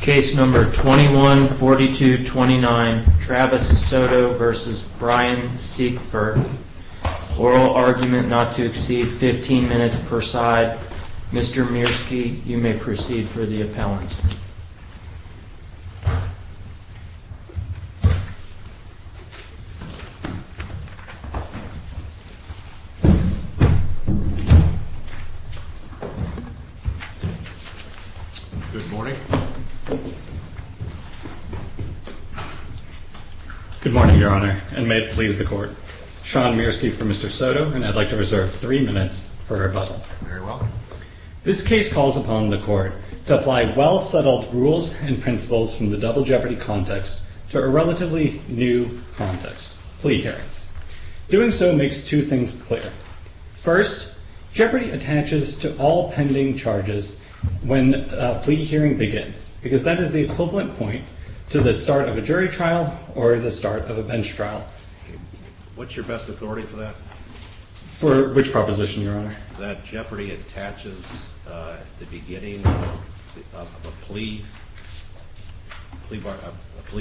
Case number 21-4229, Travis Soto v. Brian Siekfer. Oral argument not to exceed 15 minutes per side. Mr. Mierski, you may proceed for the appellant. Good morning, Your Honor, and may it please the Court. Sean Mierski for Mr. Soto, and I'd like to reserve three minutes for rebuttal. Very well. This case calls upon the Court to apply well-settled rules and principles from the double jeopardy context to a relatively new context, plea hearings. Doing so makes two things clear. First, jeopardy attaches to all pending charges when a plea hearing begins, because that is the equivalent point to the start of a jury trial or the start of a bench trial. What's your best authority for that? For which proposition, Your Honor? That jeopardy attaches at the beginning of a plea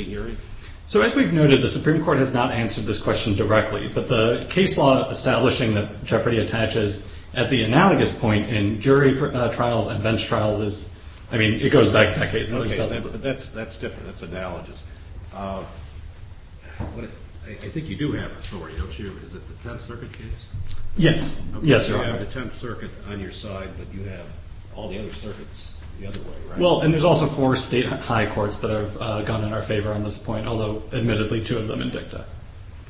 hearing? So as we've noted, the Supreme Court has not answered this question directly, but the case law establishing that jeopardy attaches at the analogous point in jury trials and bench trials is, I mean, it goes back decades. Okay, that's different. That's analogous. I think you do have authority, don't you? Is it the Tenth Circuit case? Yes. You have the Tenth Circuit on your side, but you have all the other circuits the other way, right? Well, and there's also four state high courts that have gone in our favor on this point, although, admittedly, two of them in dicta.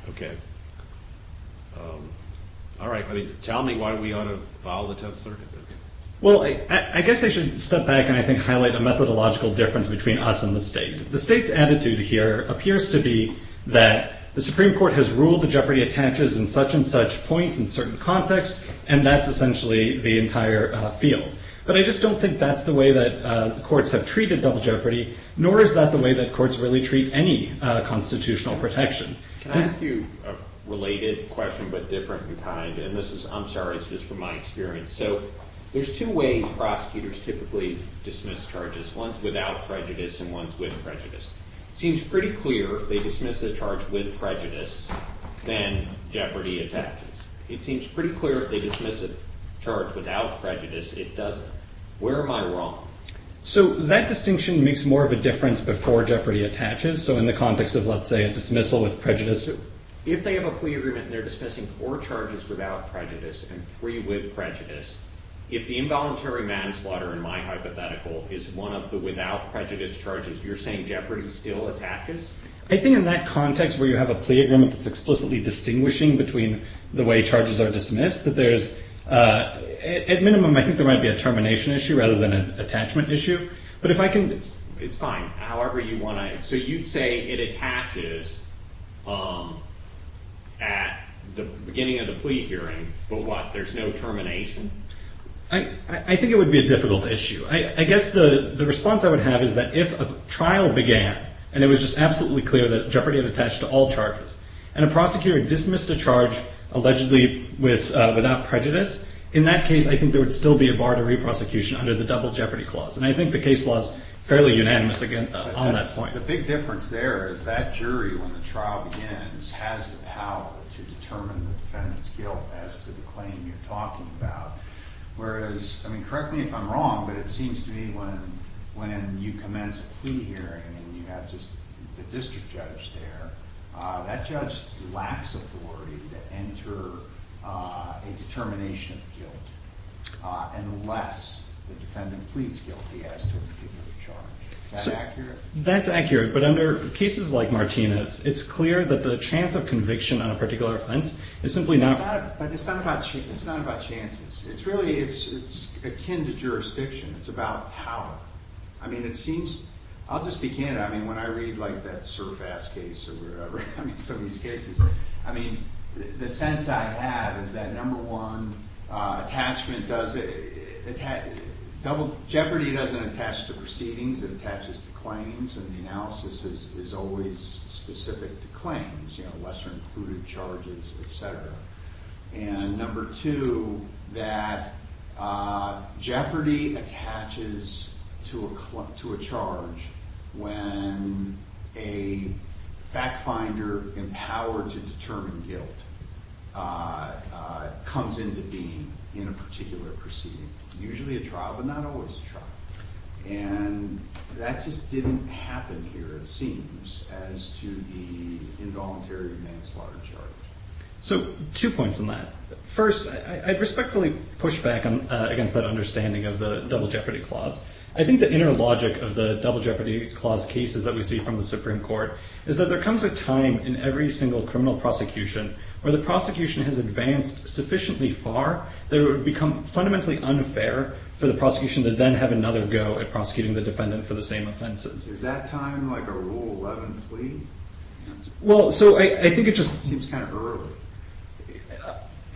Okay, all right. I mean, tell me why we ought to follow the Tenth Circuit then. Well, I guess I should step back and I think highlight a methodological difference between us and the state. The state's attitude here appears to be that the Supreme Court has ruled the jeopardy attaches in such and such points in certain contexts, and that's essentially the entire field. But I just don't think that's the way that courts have treated double jeopardy, nor is that the way that courts really treat any constitutional protection. Can I ask you a related question, but different in kind? And this is, I'm sorry, it's just from my experience. So there's two ways prosecutors typically dismiss charges, one's without prejudice and one's with prejudice. It seems pretty clear if they dismiss a charge with prejudice, then jeopardy attaches. It seems pretty clear if they dismiss a charge without prejudice, it doesn't. Where am I wrong? So that distinction makes more of a difference before jeopardy attaches. So in the context of, let's say, a dismissal with prejudice. If they have a plea agreement and they're dismissing four charges without prejudice and three with prejudice, if the involuntary manslaughter, in my hypothetical, is one of the without prejudice charges, you're saying jeopardy still attaches? I think in that context where you have a plea agreement that's explicitly distinguishing between the way charges are dismissed, that there's, at minimum, I think there might be a termination issue rather than an attachment issue. But if I can, it's fine, however you want to. So you'd say it attaches at the beginning of the plea hearing, but what? There's no termination? I think it would be a difficult issue. I guess the response I would have is that if a trial began and it was just absolutely clear that jeopardy had attached to all charges, and a prosecutor dismissed a charge allegedly without prejudice, in that case, I think there would still be a bar to re-prosecution under the double jeopardy clause. And I think the case law is fairly unanimous on that point. The big difference there is that jury, when the trial begins, has the power to determine the defendant's guilt as to the claim you're talking about. Whereas, I mean, correct me if I'm wrong, but it seems to me when you commence a plea hearing and you have just the district judge there, that judge lacks authority to enter a determination of guilt unless the defendant pleads guilty as to a particular charge. Is that accurate? That's accurate. But under cases like Martina's, it's clear that the chance of conviction on a particular offense is simply not. But it's not about chances. It's really, it's akin to jurisdiction. It's about power. I mean, it seems, I'll just begin. I mean, when I read, like, that Surfass case or whatever, I mean, some of these cases, I mean, the sense I have is that number one, attachment does, double jeopardy doesn't attach to proceedings. It attaches to claims, and the analysis is always specific to claims, you know, lesser included charges, et cetera. And number two, that jeopardy attaches to a charge when a fact finder empowered to determine guilt comes into being in a particular proceeding. Usually a trial, but not always a trial. And that just didn't happen here, it seems, as to the involuntary manslaughter charge. So two points on that. First, I'd respectfully push back against that understanding of the double jeopardy clause. I think the inner logic of the double jeopardy clause cases that we see from the Supreme Court is that there comes a time in every single criminal prosecution where the prosecution has advanced sufficiently far that it would become fundamentally unfair for the prosecution to then have another go at prosecuting the defendant for the same offenses. Is that time like a Rule 11 plea? Well, so I think it just seems kind of early.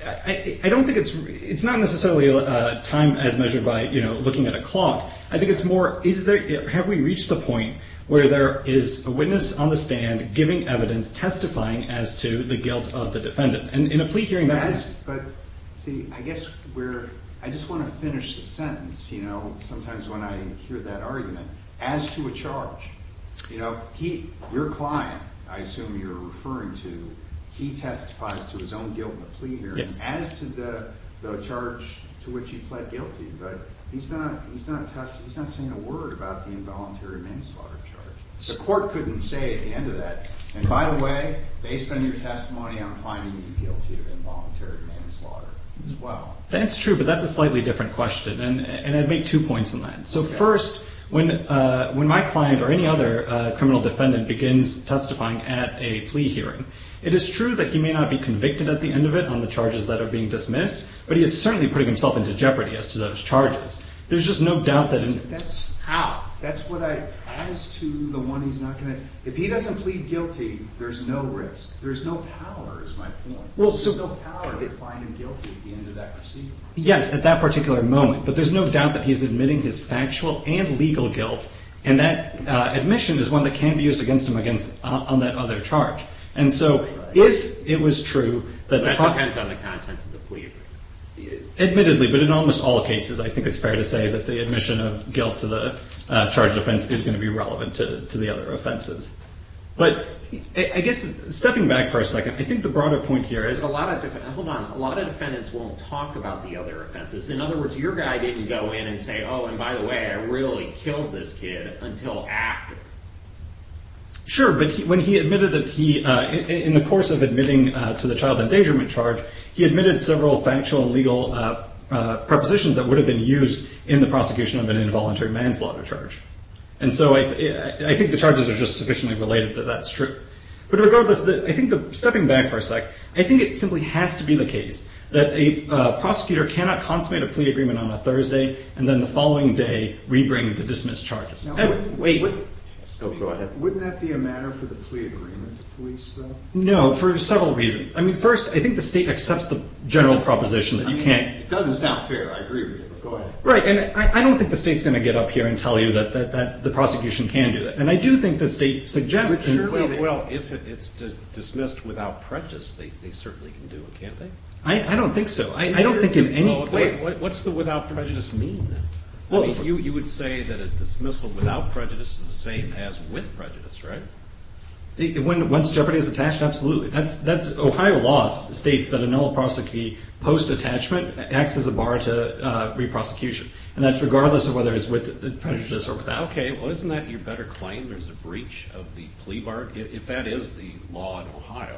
I don't think it's, it's not necessarily a time as measured by, you know, looking at a clock. I think it's more, is there, have we reached the point where there is a witness on the stand giving evidence testifying as to the guilt of the defendant? And in a plea hearing that's. But see, I guess we're, I just want to finish the sentence, you know, sometimes when I hear that argument, as to a charge. You know, he, your client, I assume you're referring to, he testifies to his own guilt in a plea hearing as to the charge to which he pled guilty. But he's not, he's not, he's not saying a word about the involuntary manslaughter charge. The court couldn't say at the end of that, and by the way, based on your testimony, I'm finding you guilty of involuntary manslaughter as well. That's true, but that's a slightly different question, and I'd make two points on that. So first, when my client or any other criminal defendant begins testifying at a plea hearing, it is true that he may not be convicted at the end of it on the charges that are being dismissed, but he is certainly putting himself into jeopardy as to those charges. There's just no doubt that. That's how, that's what I, as to the one he's not going to, if he doesn't plead guilty, there's no risk. There's no power, is my point. Well, so. There's no power to find him guilty at the end of that procedure. Yes, at that particular moment. But there's no doubt that he's admitting his factual and legal guilt, and that admission is one that can be used against him against, on that other charge. And so, if it was true that. That depends on the contents of the plea. Admittedly, but in almost all cases, I think it's fair to say that the admission of guilt to the charge of offense is going to be relevant to the other offenses. But, I guess, stepping back for a second, I think the broader point here is a lot of, hold on, a lot of defendants won't talk about the other offenses. In other words, your guy didn't go in and say, oh, and by the way, I really killed this kid until after. Sure, but when he admitted that he, in the course of admitting to the child endangerment charge, he admitted several factual and legal propositions that would have been used in the prosecution of an involuntary manslaughter charge. And so, I think the charges are just sufficiently related that that's true. But regardless, I think the, stepping back for a sec, I think it simply has to be the case that a prosecutor cannot consummate a plea agreement on a Thursday and then the following day re-bring the dismissed charges. Now, wait, wait. Oh, go ahead. Wouldn't that be a matter for the plea agreement to police, though? No, for several reasons. I mean, first, I think the state accepts the general proposition that you can't. It doesn't sound fair. I agree with you, but go ahead. Right, and I don't think the state's going to get up here and tell you that the prosecution can do that. And I do think the state suggests that. Well, if it's dismissed without prejudice, they certainly can do it, can't they? I don't think so. I don't think at any point. Wait, what's the without prejudice mean, then? Well, you would say that a dismissal without prejudice is the same as with prejudice, right? Once jeopardy is attached, absolutely. That's, Ohio law states that a no-prosecute post-attachment acts as a bar to re-prosecution. And that's regardless of whether it's with prejudice or without. Okay, well, isn't that your better claim? There's a breach of the plea bar? If that is the law in Ohio,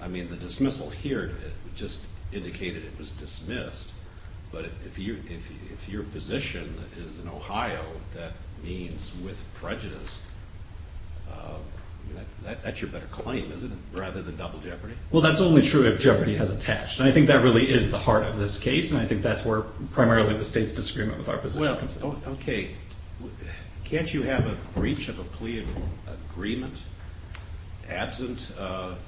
I mean, the dismissal here just indicated it was dismissed. But if your position is in Ohio that means with prejudice, that's your better claim, isn't it? Rather than double jeopardy? Well, that's only true if jeopardy has attached. And I think that really is the heart of this case. And I think that's where primarily the state's disagreement with our position comes in. Okay, can't you have a breach of a plea agreement absent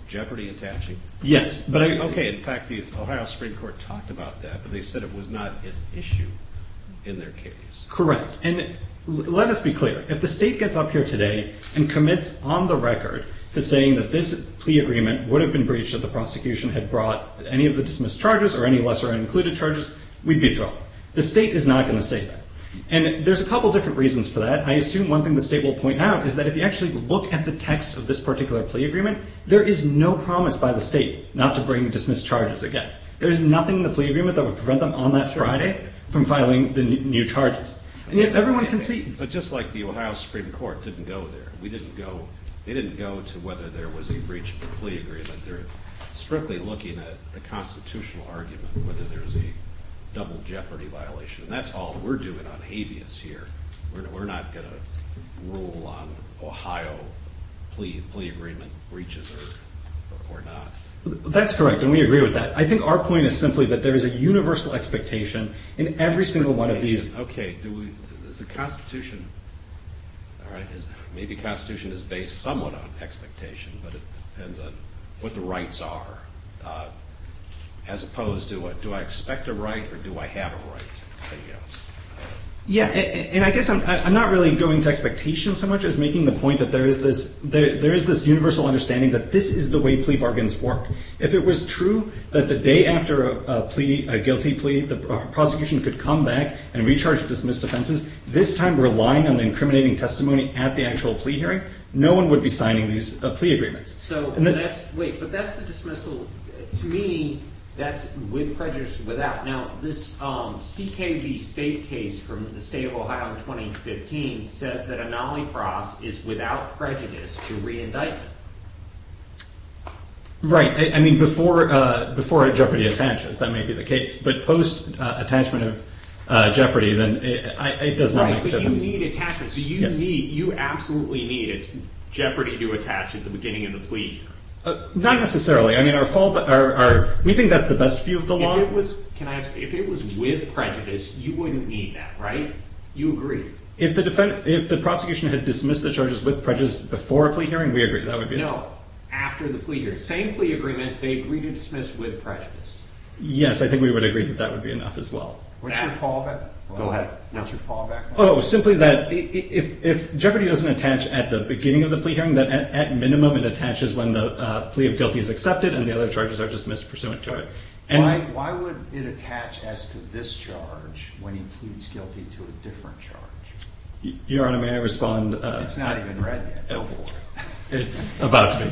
jeopardy attaching? Yes. Okay, in fact, the Ohio Supreme Court talked about that. But they said it was not an issue in their case. Correct. And let us be clear. If the state gets up here today and commits on the record to saying that this plea agreement would have been breached if the prosecution had brought any of the dismissed charges or any lesser included charges, we'd be in trouble. The state is not going to say that. And there's a couple different reasons for that. I assume one thing the state will point out is that if you actually look at the text of this particular plea agreement, there is no promise by the state not to bring dismissed charges again. There's nothing in the plea agreement that would prevent them on that Friday from filing the new charges. And yet everyone concedes. But just like the Ohio Supreme Court didn't go there. They didn't go to whether there was a breach of a plea agreement. They're strictly looking at the constitutional argument, whether there's a double jeopardy violation. That's all we're doing on habeas here. We're not going to rule on Ohio plea agreement breaches or not. That's correct. And we agree with that. I think our point is simply that there is a universal expectation in every single one of these. Okay. Do we, is the Constitution, all right, maybe the Constitution is based somewhat on expectation. But it depends on what the rights are, as opposed to do I expect a right or do I have a right? Yeah. And I guess I'm not really going to expectation so much as making the point that there is this universal understanding that this is the way plea bargains work. If it was true that the day after a plea, a guilty plea, the prosecution could come back and recharge dismissed offenses, this time relying on the incriminating testimony at the actual plea hearing, no one would be signing these plea agreements. So that's, wait, but that's the dismissal. To me, that's with prejudice, without. Now, this CKB state case from the state of Ohio in 2015 says that a nollie cross is without prejudice to re-indictment. Right. I mean, before, before a jeopardy attachments, that may be the case, but post attachment of jeopardy, then it does not make a difference. Right, but you need attachment. So you need, you absolutely need it's jeopardy to attach at the beginning of the plea hearing. Not necessarily. I mean, our fault, our, we think that's the best view of the law. Can I ask, if it was with prejudice, you wouldn't need that, right? You agree. If the defendant, if the prosecution had dismissed the charges with prejudice before a plea hearing, we agree that would be enough. No, after the plea hearing, same plea agreement, they agree to dismiss with prejudice. Yes, I think we would agree that that would be enough as well. What's your fallback? Go ahead. What's your fallback? Oh, simply that if jeopardy doesn't attach at the beginning of the plea hearing, that at minimum it attaches when the plea of guilty is accepted and the other charges are dismissed pursuant to it. And why would it attach as to this charge when he pleads guilty to a different charge? Your Honor, may I respond? It's not even read yet. Go for it. It's about to.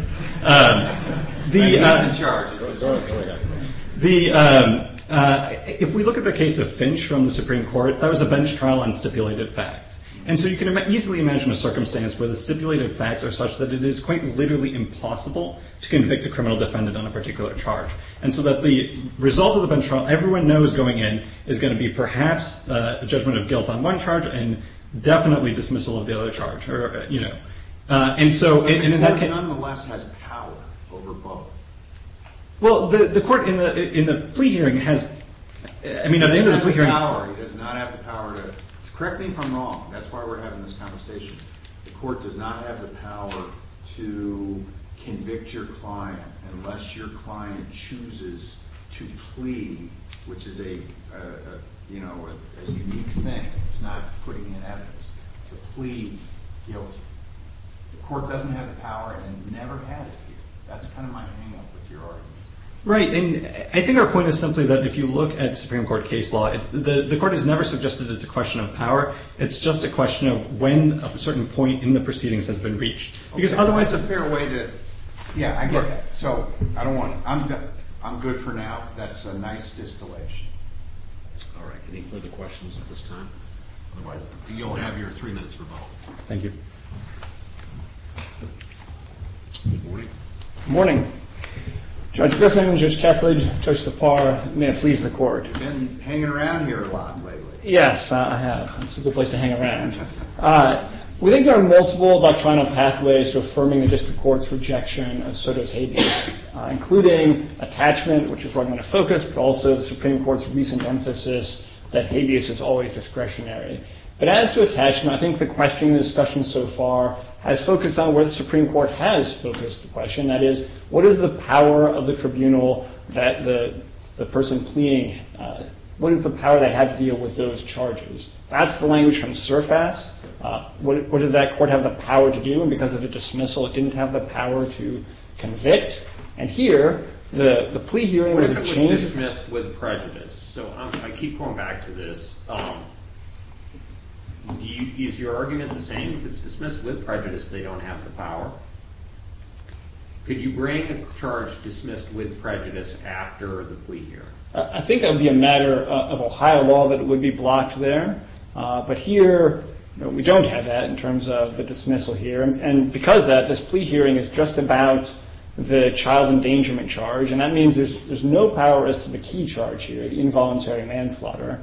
The, if we look at the case of Finch from the Supreme Court, that was a bench trial on stipulated facts. And so you can easily imagine a circumstance where the stipulated facts are such that it is quite literally impossible to convict a criminal defendant on a particular charge. And so that the result of the bench trial, everyone knows going in, is going to be perhaps a judgment of guilt on one charge and definitely dismissal of the other charge. Or, you know, and so in that case, nonetheless has power over both. Well, the court in the plea hearing has, I mean, at the end of the plea hearing, does not have the power to, correct me if I'm wrong. That's why we're having this conversation. The court does not have the power to convict your client unless your client chooses to plead, which is a, you know, a unique thing. It's not putting in evidence to plead guilty. The court doesn't have the power and never had it. That's kind of my hangup with your argument. Right. And I think our point is simply that if you look at Supreme Court case law, the court has never suggested it's a question of power. It's just a question of when a certain point in the proceedings has been reached, because otherwise a fair way to, yeah, so I don't want to, I'm good for now. That's a nice distillation. All right. Any further questions at this time? Otherwise, you'll have your three minutes revolt. Thank you. Morning. Judge Griffin, Judge Kethledge, Judge Lepar, may it please the court. You've been hanging around here a lot lately. Yes, I have. It's a good place to hang around. We think there are multiple doctrinal pathways to affirming the district court's rejection of Soto's habeas, including attachment, which is where I'm going to focus, but also the Supreme Court's recent emphasis that habeas is always discretionary. But as to attachment, I think the question in the discussion so far has focused on where the Supreme Court has focused the question. That is, what is the power of the tribunal that the person pleading, what is the power they have to deal with those charges? That's the language from surface. What did that court have the power to do? And because of the dismissal, it didn't have the power to convict. And here, the plea hearing was a change. Dismissed with prejudice. So I keep going back to this. Is your argument the same? It's dismissed with prejudice. They don't have the power. Could you bring a charge dismissed with prejudice after the plea hearing? I think that would be a matter of Ohio law that would be blocked there. But here, we don't have that in terms of the dismissal here. And because of that, this plea hearing is just about the child endangerment charge. And that means there's no power as to the key charge here, involuntary manslaughter.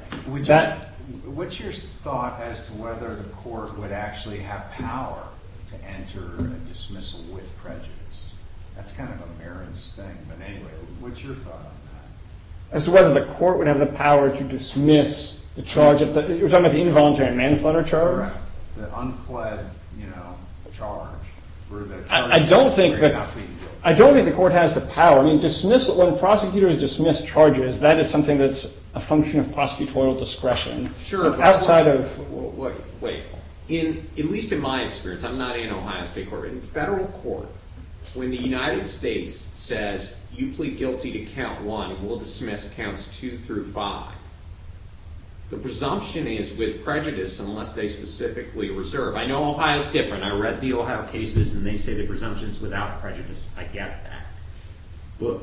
What's your thought as to whether the court would actually have power to enter a dismissal with prejudice? That's kind of a mere instinct. But anyway, what's your thought on that? As to whether the court would have the power to dismiss the charge? You're talking about the involuntary manslaughter charge? Correct. The unfled, you know, charge. I don't think the court has the power. I mean, when prosecutors dismiss charges, that is something that's a function of prosecutorial discretion. Sure. Outside of... Wait, at least in my experience, I'm not in Ohio State Court. In federal court, when the United States says, you plead guilty to count one, we'll dismiss counts two through five, the presumption is with prejudice unless they specifically reserve. I know Ohio's different. I read the Ohio cases and they say the presumption is without prejudice. I get that. But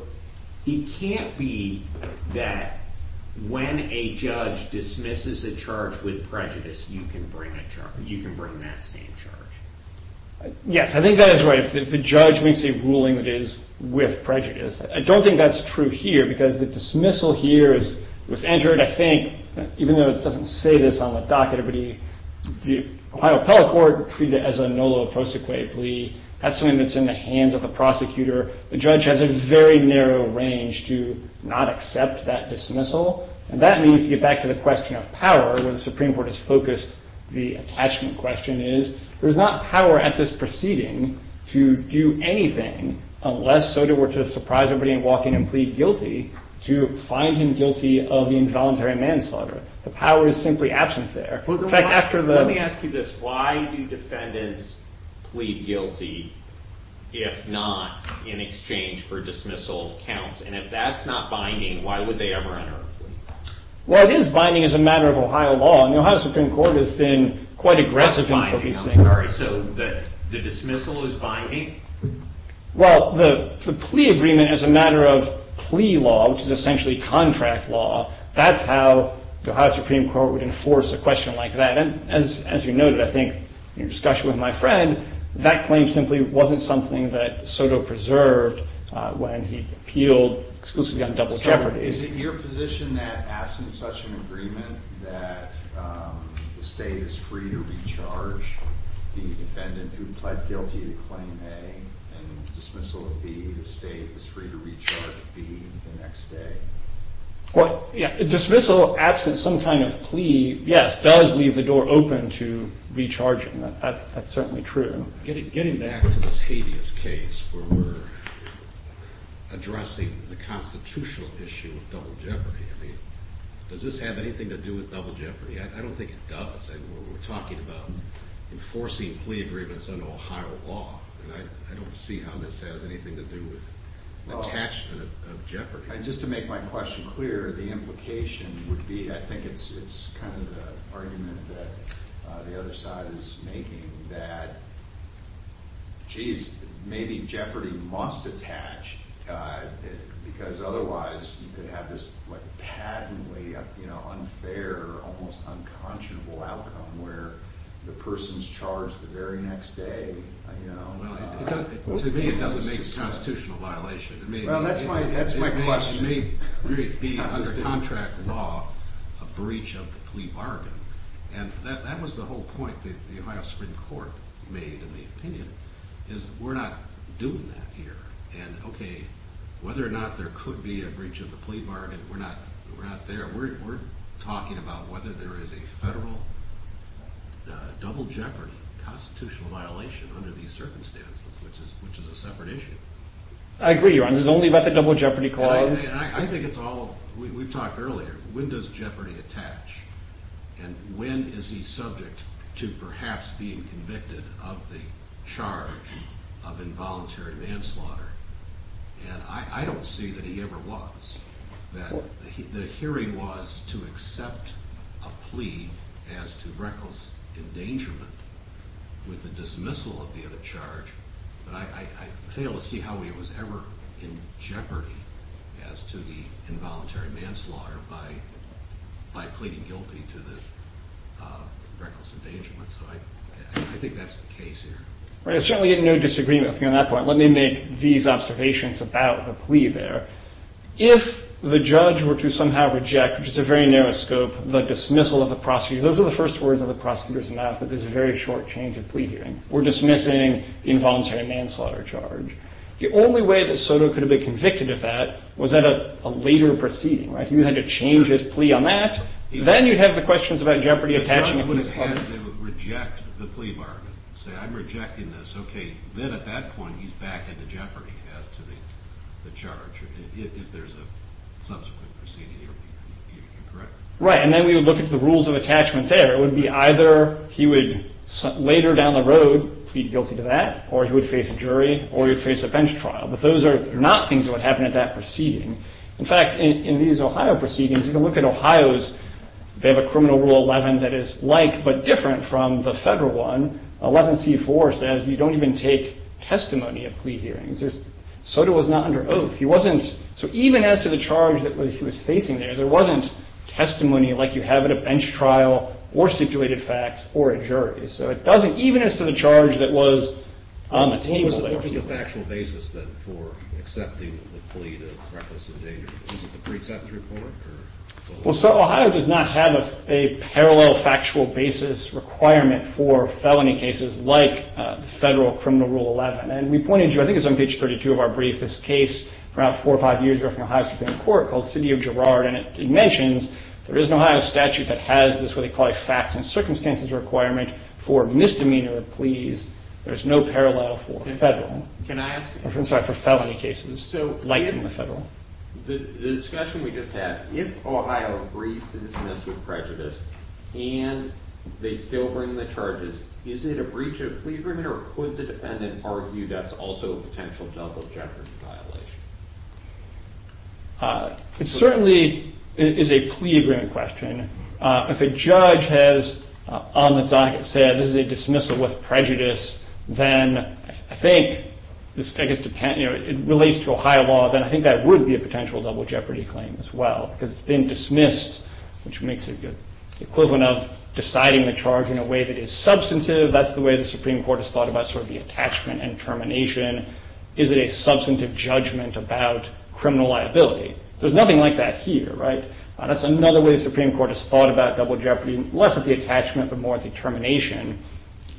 it can't be that when a judge dismisses a charge with prejudice, you can bring a charge, you can bring that same charge. Yes, I think that is right. If the judge makes a ruling that is with prejudice. I don't think that's true here because the dismissal here was entered, I think, even though it doesn't say this on the docket, but the Ohio appellate court treated it as a nulla prosequae plea. That's something that's in the hands of the prosecutor. The judge has a very narrow range to not accept that dismissal. And that means, to get back to the question of power, where the Supreme Court is focused, the attachment question is, there's not power at this proceeding to do anything unless Sotomayor were to surprise everybody and walk in and plead guilty to find him guilty of the involuntary manslaughter. The power is simply absent there. In fact, after the... Let me ask you this. Why do defendants plead guilty if not in exchange for dismissal counts? And if that's not binding, why would they ever enter a plea? Well, it is binding as a matter of Ohio law. And the Ohio Supreme Court has been quite aggressive in... Not binding, I'm sorry. So the dismissal is binding? Well, the plea agreement as a matter of plea law, which is essentially contract law, that's how the Ohio Supreme Court would enforce a question like that. And as you noted, I think, in your discussion with my friend, that claim simply wasn't something that Soto preserved when he appealed exclusively on double jeopardy. Is it your position that absent such an agreement, that the state is free to recharge the defendant who pled guilty to claim A and dismissal of B, the state is free to recharge B the next day? Well, yeah, dismissal absent some kind of plea, yes, does leave the door open to recharging. That's certainly true. Getting back to this habeas case where we're addressing the constitutional issue of double jeopardy, I mean, does this have anything to do with double jeopardy? I don't think it does. I mean, we're talking about enforcing plea agreements under Ohio law, and I don't see how this has anything to do with the attachment of jeopardy. Just to make my question clear, the implication would be, I think it's kind of the argument that the other side is making that, geez, maybe jeopardy must attach because otherwise you could have this patently unfair, almost unconscionable outcome where the person's charged the very next day, you know? Well, to me, it doesn't make a constitutional violation. Well, that's my question. It may be under contract law, a breach of the plea bargain, and that was the whole point that the Ohio Supreme Court made in the opinion, is we're not doing that here, and, okay, whether or not there could be a breach of the plea bargain, we're not there. We're talking about whether there is a federal double jeopardy constitutional violation under these circumstances, which is a separate issue. I agree, Your Honor. It's only about the double jeopardy clause. I think it's all, we've talked earlier, when does jeopardy attach, and when is he subject to perhaps being convicted of the charge of involuntary manslaughter, and I don't see that he ever was, that the hearing was to accept a plea as to reckless endangerment with the dismissal of the other charge, but I fail to see how he was ever in jeopardy as to the involuntary manslaughter by pleading guilty to the reckless endangerment, so I think that's the case here. All right, I certainly get no disagreement with you on that point. Let me make these observations about the plea there. If the judge were to somehow reject, which is a very narrow scope, the dismissal of the prosecutor, those are the first words of the prosecutor's mouth, that there's a very short change of plea hearing. We're dismissing the involuntary manslaughter charge. The only way that Soto could have been convicted of that was at a later proceeding, right? He would have had to change his plea on that, then you'd have the questions about jeopardy attachment. The judge would have had to reject the plea bargain, say I'm rejecting this, okay, then at that point he's back at the jeopardy as to the charge, if there's a subsequent proceeding, you're correct? Right, and then we would look at the rules of attachment there. It would be either he would later down the road plead guilty to that, or he would face a jury, or he would face a bench trial, but those are not things that would happen at that proceeding. In fact, in these Ohio proceedings, you can look at Ohio's, they have a criminal rule 11 that is like but different from the federal one. 11c4 says you don't even take testimony at plea hearings. Soto was not under oath. So even as to the charge that he was facing there, there wasn't testimony like you have at a bench trial, or stipulated fact, or a jury. So it doesn't, even as to the charge that was on the table there. What was the factual basis then for accepting the plea to reckless endangerment? Was it the precepts report, or the law? Well, so Ohio does not have a parallel factual basis requirement for felony cases like federal criminal rule 11, and we pointed to, I think it's on page 32 of our brief, this case from about four or five years ago from Ohio Supreme Court called City of Girard, and it mentions there is an Ohio statute that has this what they call a facts and circumstances requirement for misdemeanor pleas. There's no parallel for federal, I'm sorry, for felony cases like in the federal. The discussion we just had, if Ohio agrees to dismiss with prejudice, and they still bring the charges, is it a breach of plea agreement, or could the defendant argue that's also a potential double jeopardy? It certainly is a plea agreement question. If a judge has on the docket said this is a dismissal with prejudice, then I think, I guess it relates to Ohio law, then I think that would be a potential double jeopardy claim as well. Because it's been dismissed, which makes it the equivalent of deciding the charge in a way that is substantive, that's the way the Supreme Court has thought about sort of the attachment and termination. Is it a substantive judgment about criminal liability? There's nothing like that here, right? That's another way the Supreme Court has thought about double jeopardy, less of the attachment, but more of the termination.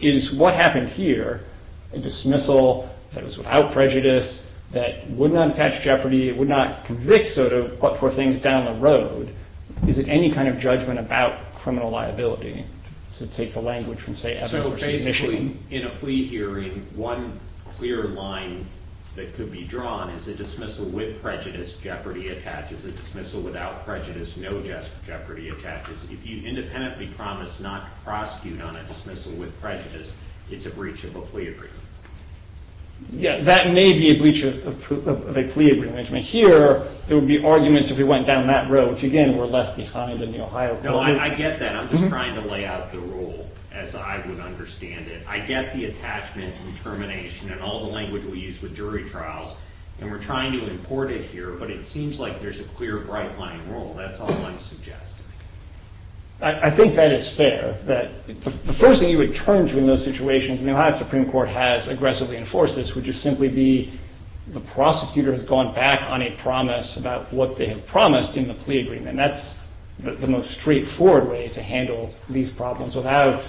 Is what happened here, a dismissal that was without prejudice, that would not attach jeopardy, would not convict for things down the road, is it any kind of judgment about criminal liability? To take the language from say Evans v. Michigan. So in a plea hearing, one clear line that could be drawn is a dismissal with prejudice, jeopardy attaches, a dismissal without prejudice, no jeopardy attaches. If you independently promise not to prosecute on a dismissal with prejudice, it's a breach of a plea agreement. Yeah, that may be a breach of a plea agreement. Here, there would be arguments if we went down that road, which again, we're left behind in the Ohio court. No, I get that. I'm just trying to lay out the rule as I would understand it. I get the attachment and termination and all the language we use with jury trials. And we're trying to import it here, but it seems like there's a clear bright line rule. That's all I'm suggesting. I think that is fair, that the first thing you would turn to in those situations, and the Ohio Supreme Court has aggressively enforced this, would just simply be the prosecutor has gone back on a promise about what they have promised in the plea agreement. And that's the most straightforward way to handle these problems without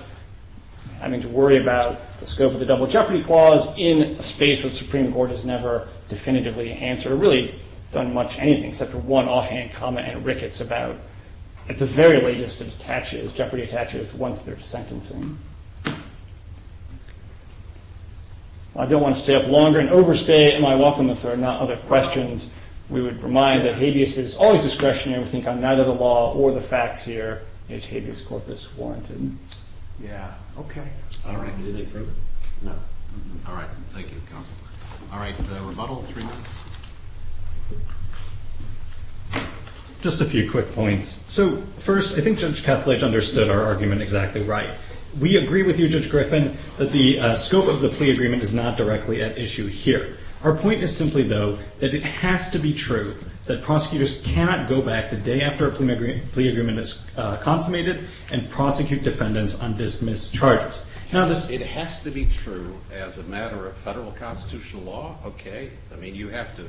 having to worry about the scope of the double jeopardy clause in a space where the Supreme Court has never definitively answered or really done much anything except for one offhand comment and rickets about the very latest of jeopardy attaches once they're sentencing. I don't want to stay up longer and overstay. Am I welcome if there are not other questions? We would remind that habeas is always discretionary. We think on neither the law or the facts here is habeas corpus warranted. Just a few quick points. So first, I think Judge Kethledge understood our argument exactly right. We agree with you, Judge Griffin, that the scope of the plea agreement is not directly at issue here. Our point is simply, though, that it has to be true that prosecutors cannot go back the day after a plea agreement is consummated and prosecute defendants on dismissed charges. It has to be true as a matter of federal constitutional law? Okay. I mean, you have to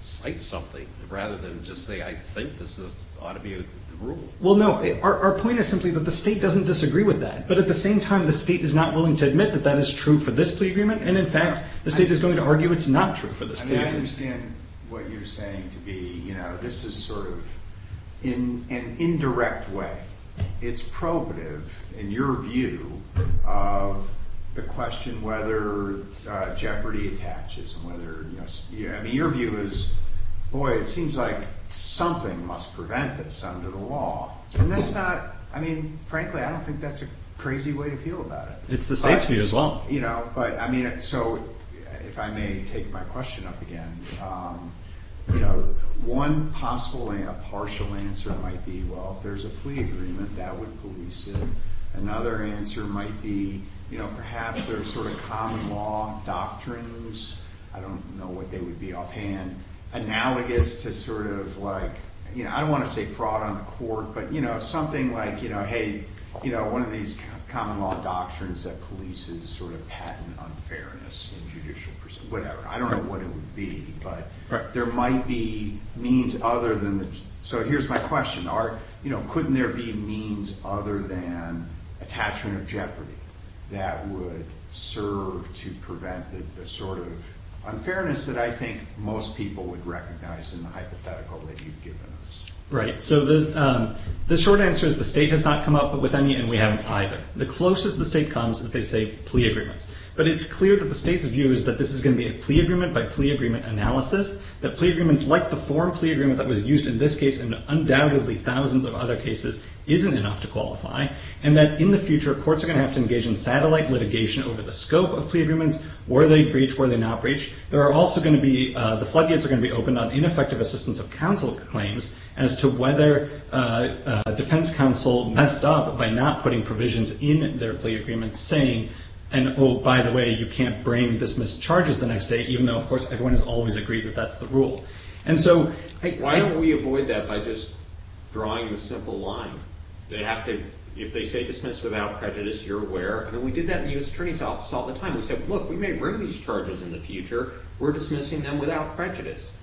cite something rather than just say, I think this ought to be a rule. Well, no. Our point is simply that the state doesn't disagree with that. But at the same time, the state is not willing to admit that that is true for this plea agreement. And in fact, the state is going to argue it's not true for this plea agreement. I mean, I understand what you're saying to be, you know, this is sort of in an indirect way. It's probative in your view of the question whether jeopardy attaches and whether, you know, I mean, your view is, boy, it seems like something must prevent this under the law. And that's not, I mean, frankly, I don't think that's a crazy way to feel about it. It's the state's view as well. You know, but I mean, so if I may take my question up again, you know, one possible, a partial answer might be, well, if there's a plea agreement, that would police it. Another answer might be, you know, perhaps there's sort of common law doctrines. I don't know what they would be offhand. Analogous to sort of like, you know, I don't want to say fraud on the court. But, you know, something like, you know, hey, you know, one of these common law doctrines that polices sort of patent unfairness in judicial proceedings, whatever. I don't know what it would be. But there might be means other than, so here's my question. Are, you know, couldn't there be means other than attachment of jeopardy that would serve to prevent the sort of unfairness that I think most people would recognize in the hypothetical that you've given us? Right. So the short answer is the state has not come up with any, and we haven't either. The closest the state comes is they say plea agreements. But it's clear that the state's view is that this is going to be a plea agreement by plea agreement analysis. That plea agreements, like the foreign plea agreement that was used in this case, and undoubtedly thousands of other cases, isn't enough to qualify. And that in the future, courts are going to have to engage in satellite litigation over the scope of plea agreements. Were they breached? Were they not breached? There are also going to be, the floodgates are going to be open on ineffective assistance of counsel claims as to whether a defense counsel messed up by not putting provisions in their plea agreements saying, and oh, by the way, you can't bring dismissed charges the next day, even though, of course, everyone has always agreed that that's the rule. And so I- Why don't we avoid that by just drawing the simple line? They have to, if they say dismissed without prejudice, you're aware. And we did that in the U.S. Attorney's Office all the time. We said, look, we may bring these charges in the future. We're dismissing them without prejudice.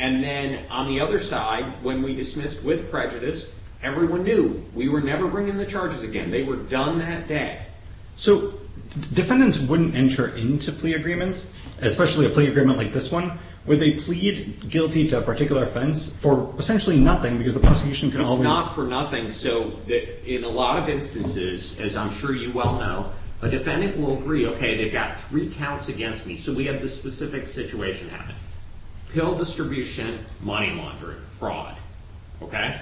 And then on the other side, when we dismissed with prejudice, everyone knew we were never bringing the charges again. They were done that day. So defendants wouldn't enter into plea agreements, especially a plea agreement like this one, where they plead guilty to a particular offense for essentially nothing because the prosecution can always- It's not for nothing. So in a lot of instances, as I'm sure you well know, a defendant will agree, okay, they've got three counts against me. So we have this specific situation happening. Pill distribution, money laundering, fraud, okay?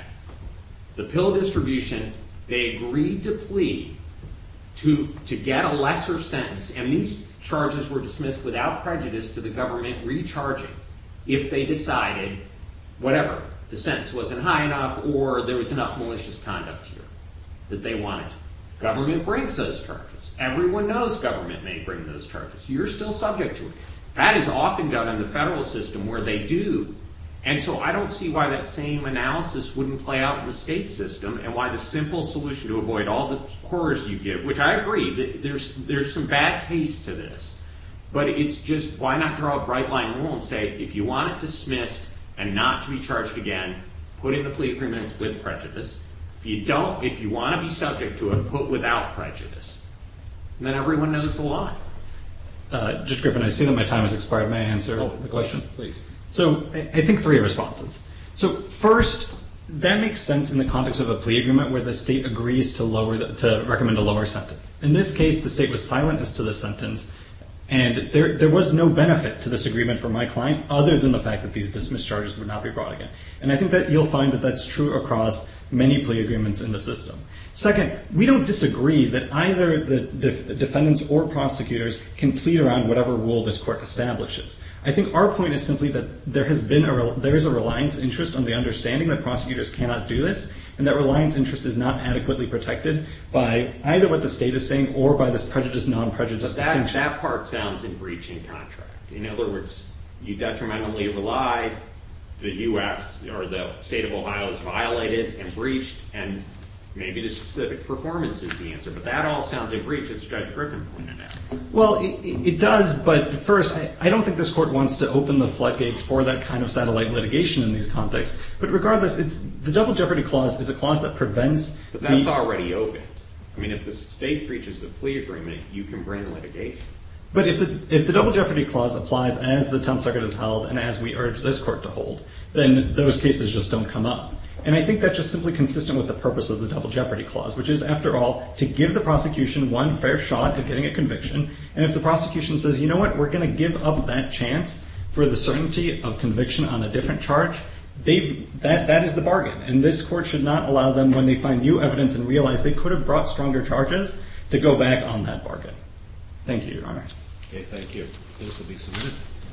The pill distribution, they agreed to plea to get a lesser sentence and these charges were dismissed without prejudice to the government recharging if they decided, whatever, the sentence wasn't high enough or there was enough malicious conduct here that they wanted. Government brings those charges. Everyone knows government may bring those charges. You're still subject to it. That is often done in the federal system where they do. And so I don't see why that same analysis wouldn't play out in the state system and why the simple solution to avoid all the horrors you give, which I agree, there's some bad taste to this, but it's just why not draw a bright line rule and say, if you want it dismissed and not to be charged again, put in the plea agreements with prejudice. If you don't, if you want to be subject to it, put without prejudice. And then everyone knows the law. Judge Griffin, I see that my time has expired. May I answer the question? Please. So I think three responses. So first, that makes sense in the context of a plea agreement where the state agrees to recommend a lower sentence. In this case, the state was silent as to the sentence and there was no benefit to this agreement for my client other than the fact that these dismissed charges would not be brought again. And I think that you'll find that that's true across many plea agreements in the system. Second, we don't disagree that either the defendants or prosecutors can plead around whatever rule this court establishes. I think our point is simply that there has been a, there is a reliance interest on the understanding that prosecutors cannot do this and that reliance interest is not adequately protected by either what the state is saying or by this prejudice, non-prejudice distinction. That part sounds in breaching contract. In other words, you detrimentally relied, the US or the state of Ohio is violated and maybe the specific performance is the answer. But that all sounds in breach of Judge Griffin point in that. Well, it does. But first, I don't think this court wants to open the floodgates for that kind of satellite litigation in these contexts. But regardless, it's the double jeopardy clause is a clause that prevents. But that's already open. I mean, if the state breaches the plea agreement, you can bring litigation. But if the double jeopardy clause applies as the 10th Circuit has held and as we urge this court to hold, then those cases just don't come up. And I think that's just simply consistent with the purpose of the double jeopardy clause, which is, after all, to give the prosecution one fair shot at getting a conviction. And if the prosecution says, you know what, we're going to give up that chance for the certainty of conviction on a different charge, that is the bargain. And this court should not allow them when they find new evidence and realize they could have brought stronger charges to go back on that bargain. Thank you, Your Honor. Okay, thank you. This will be submitted.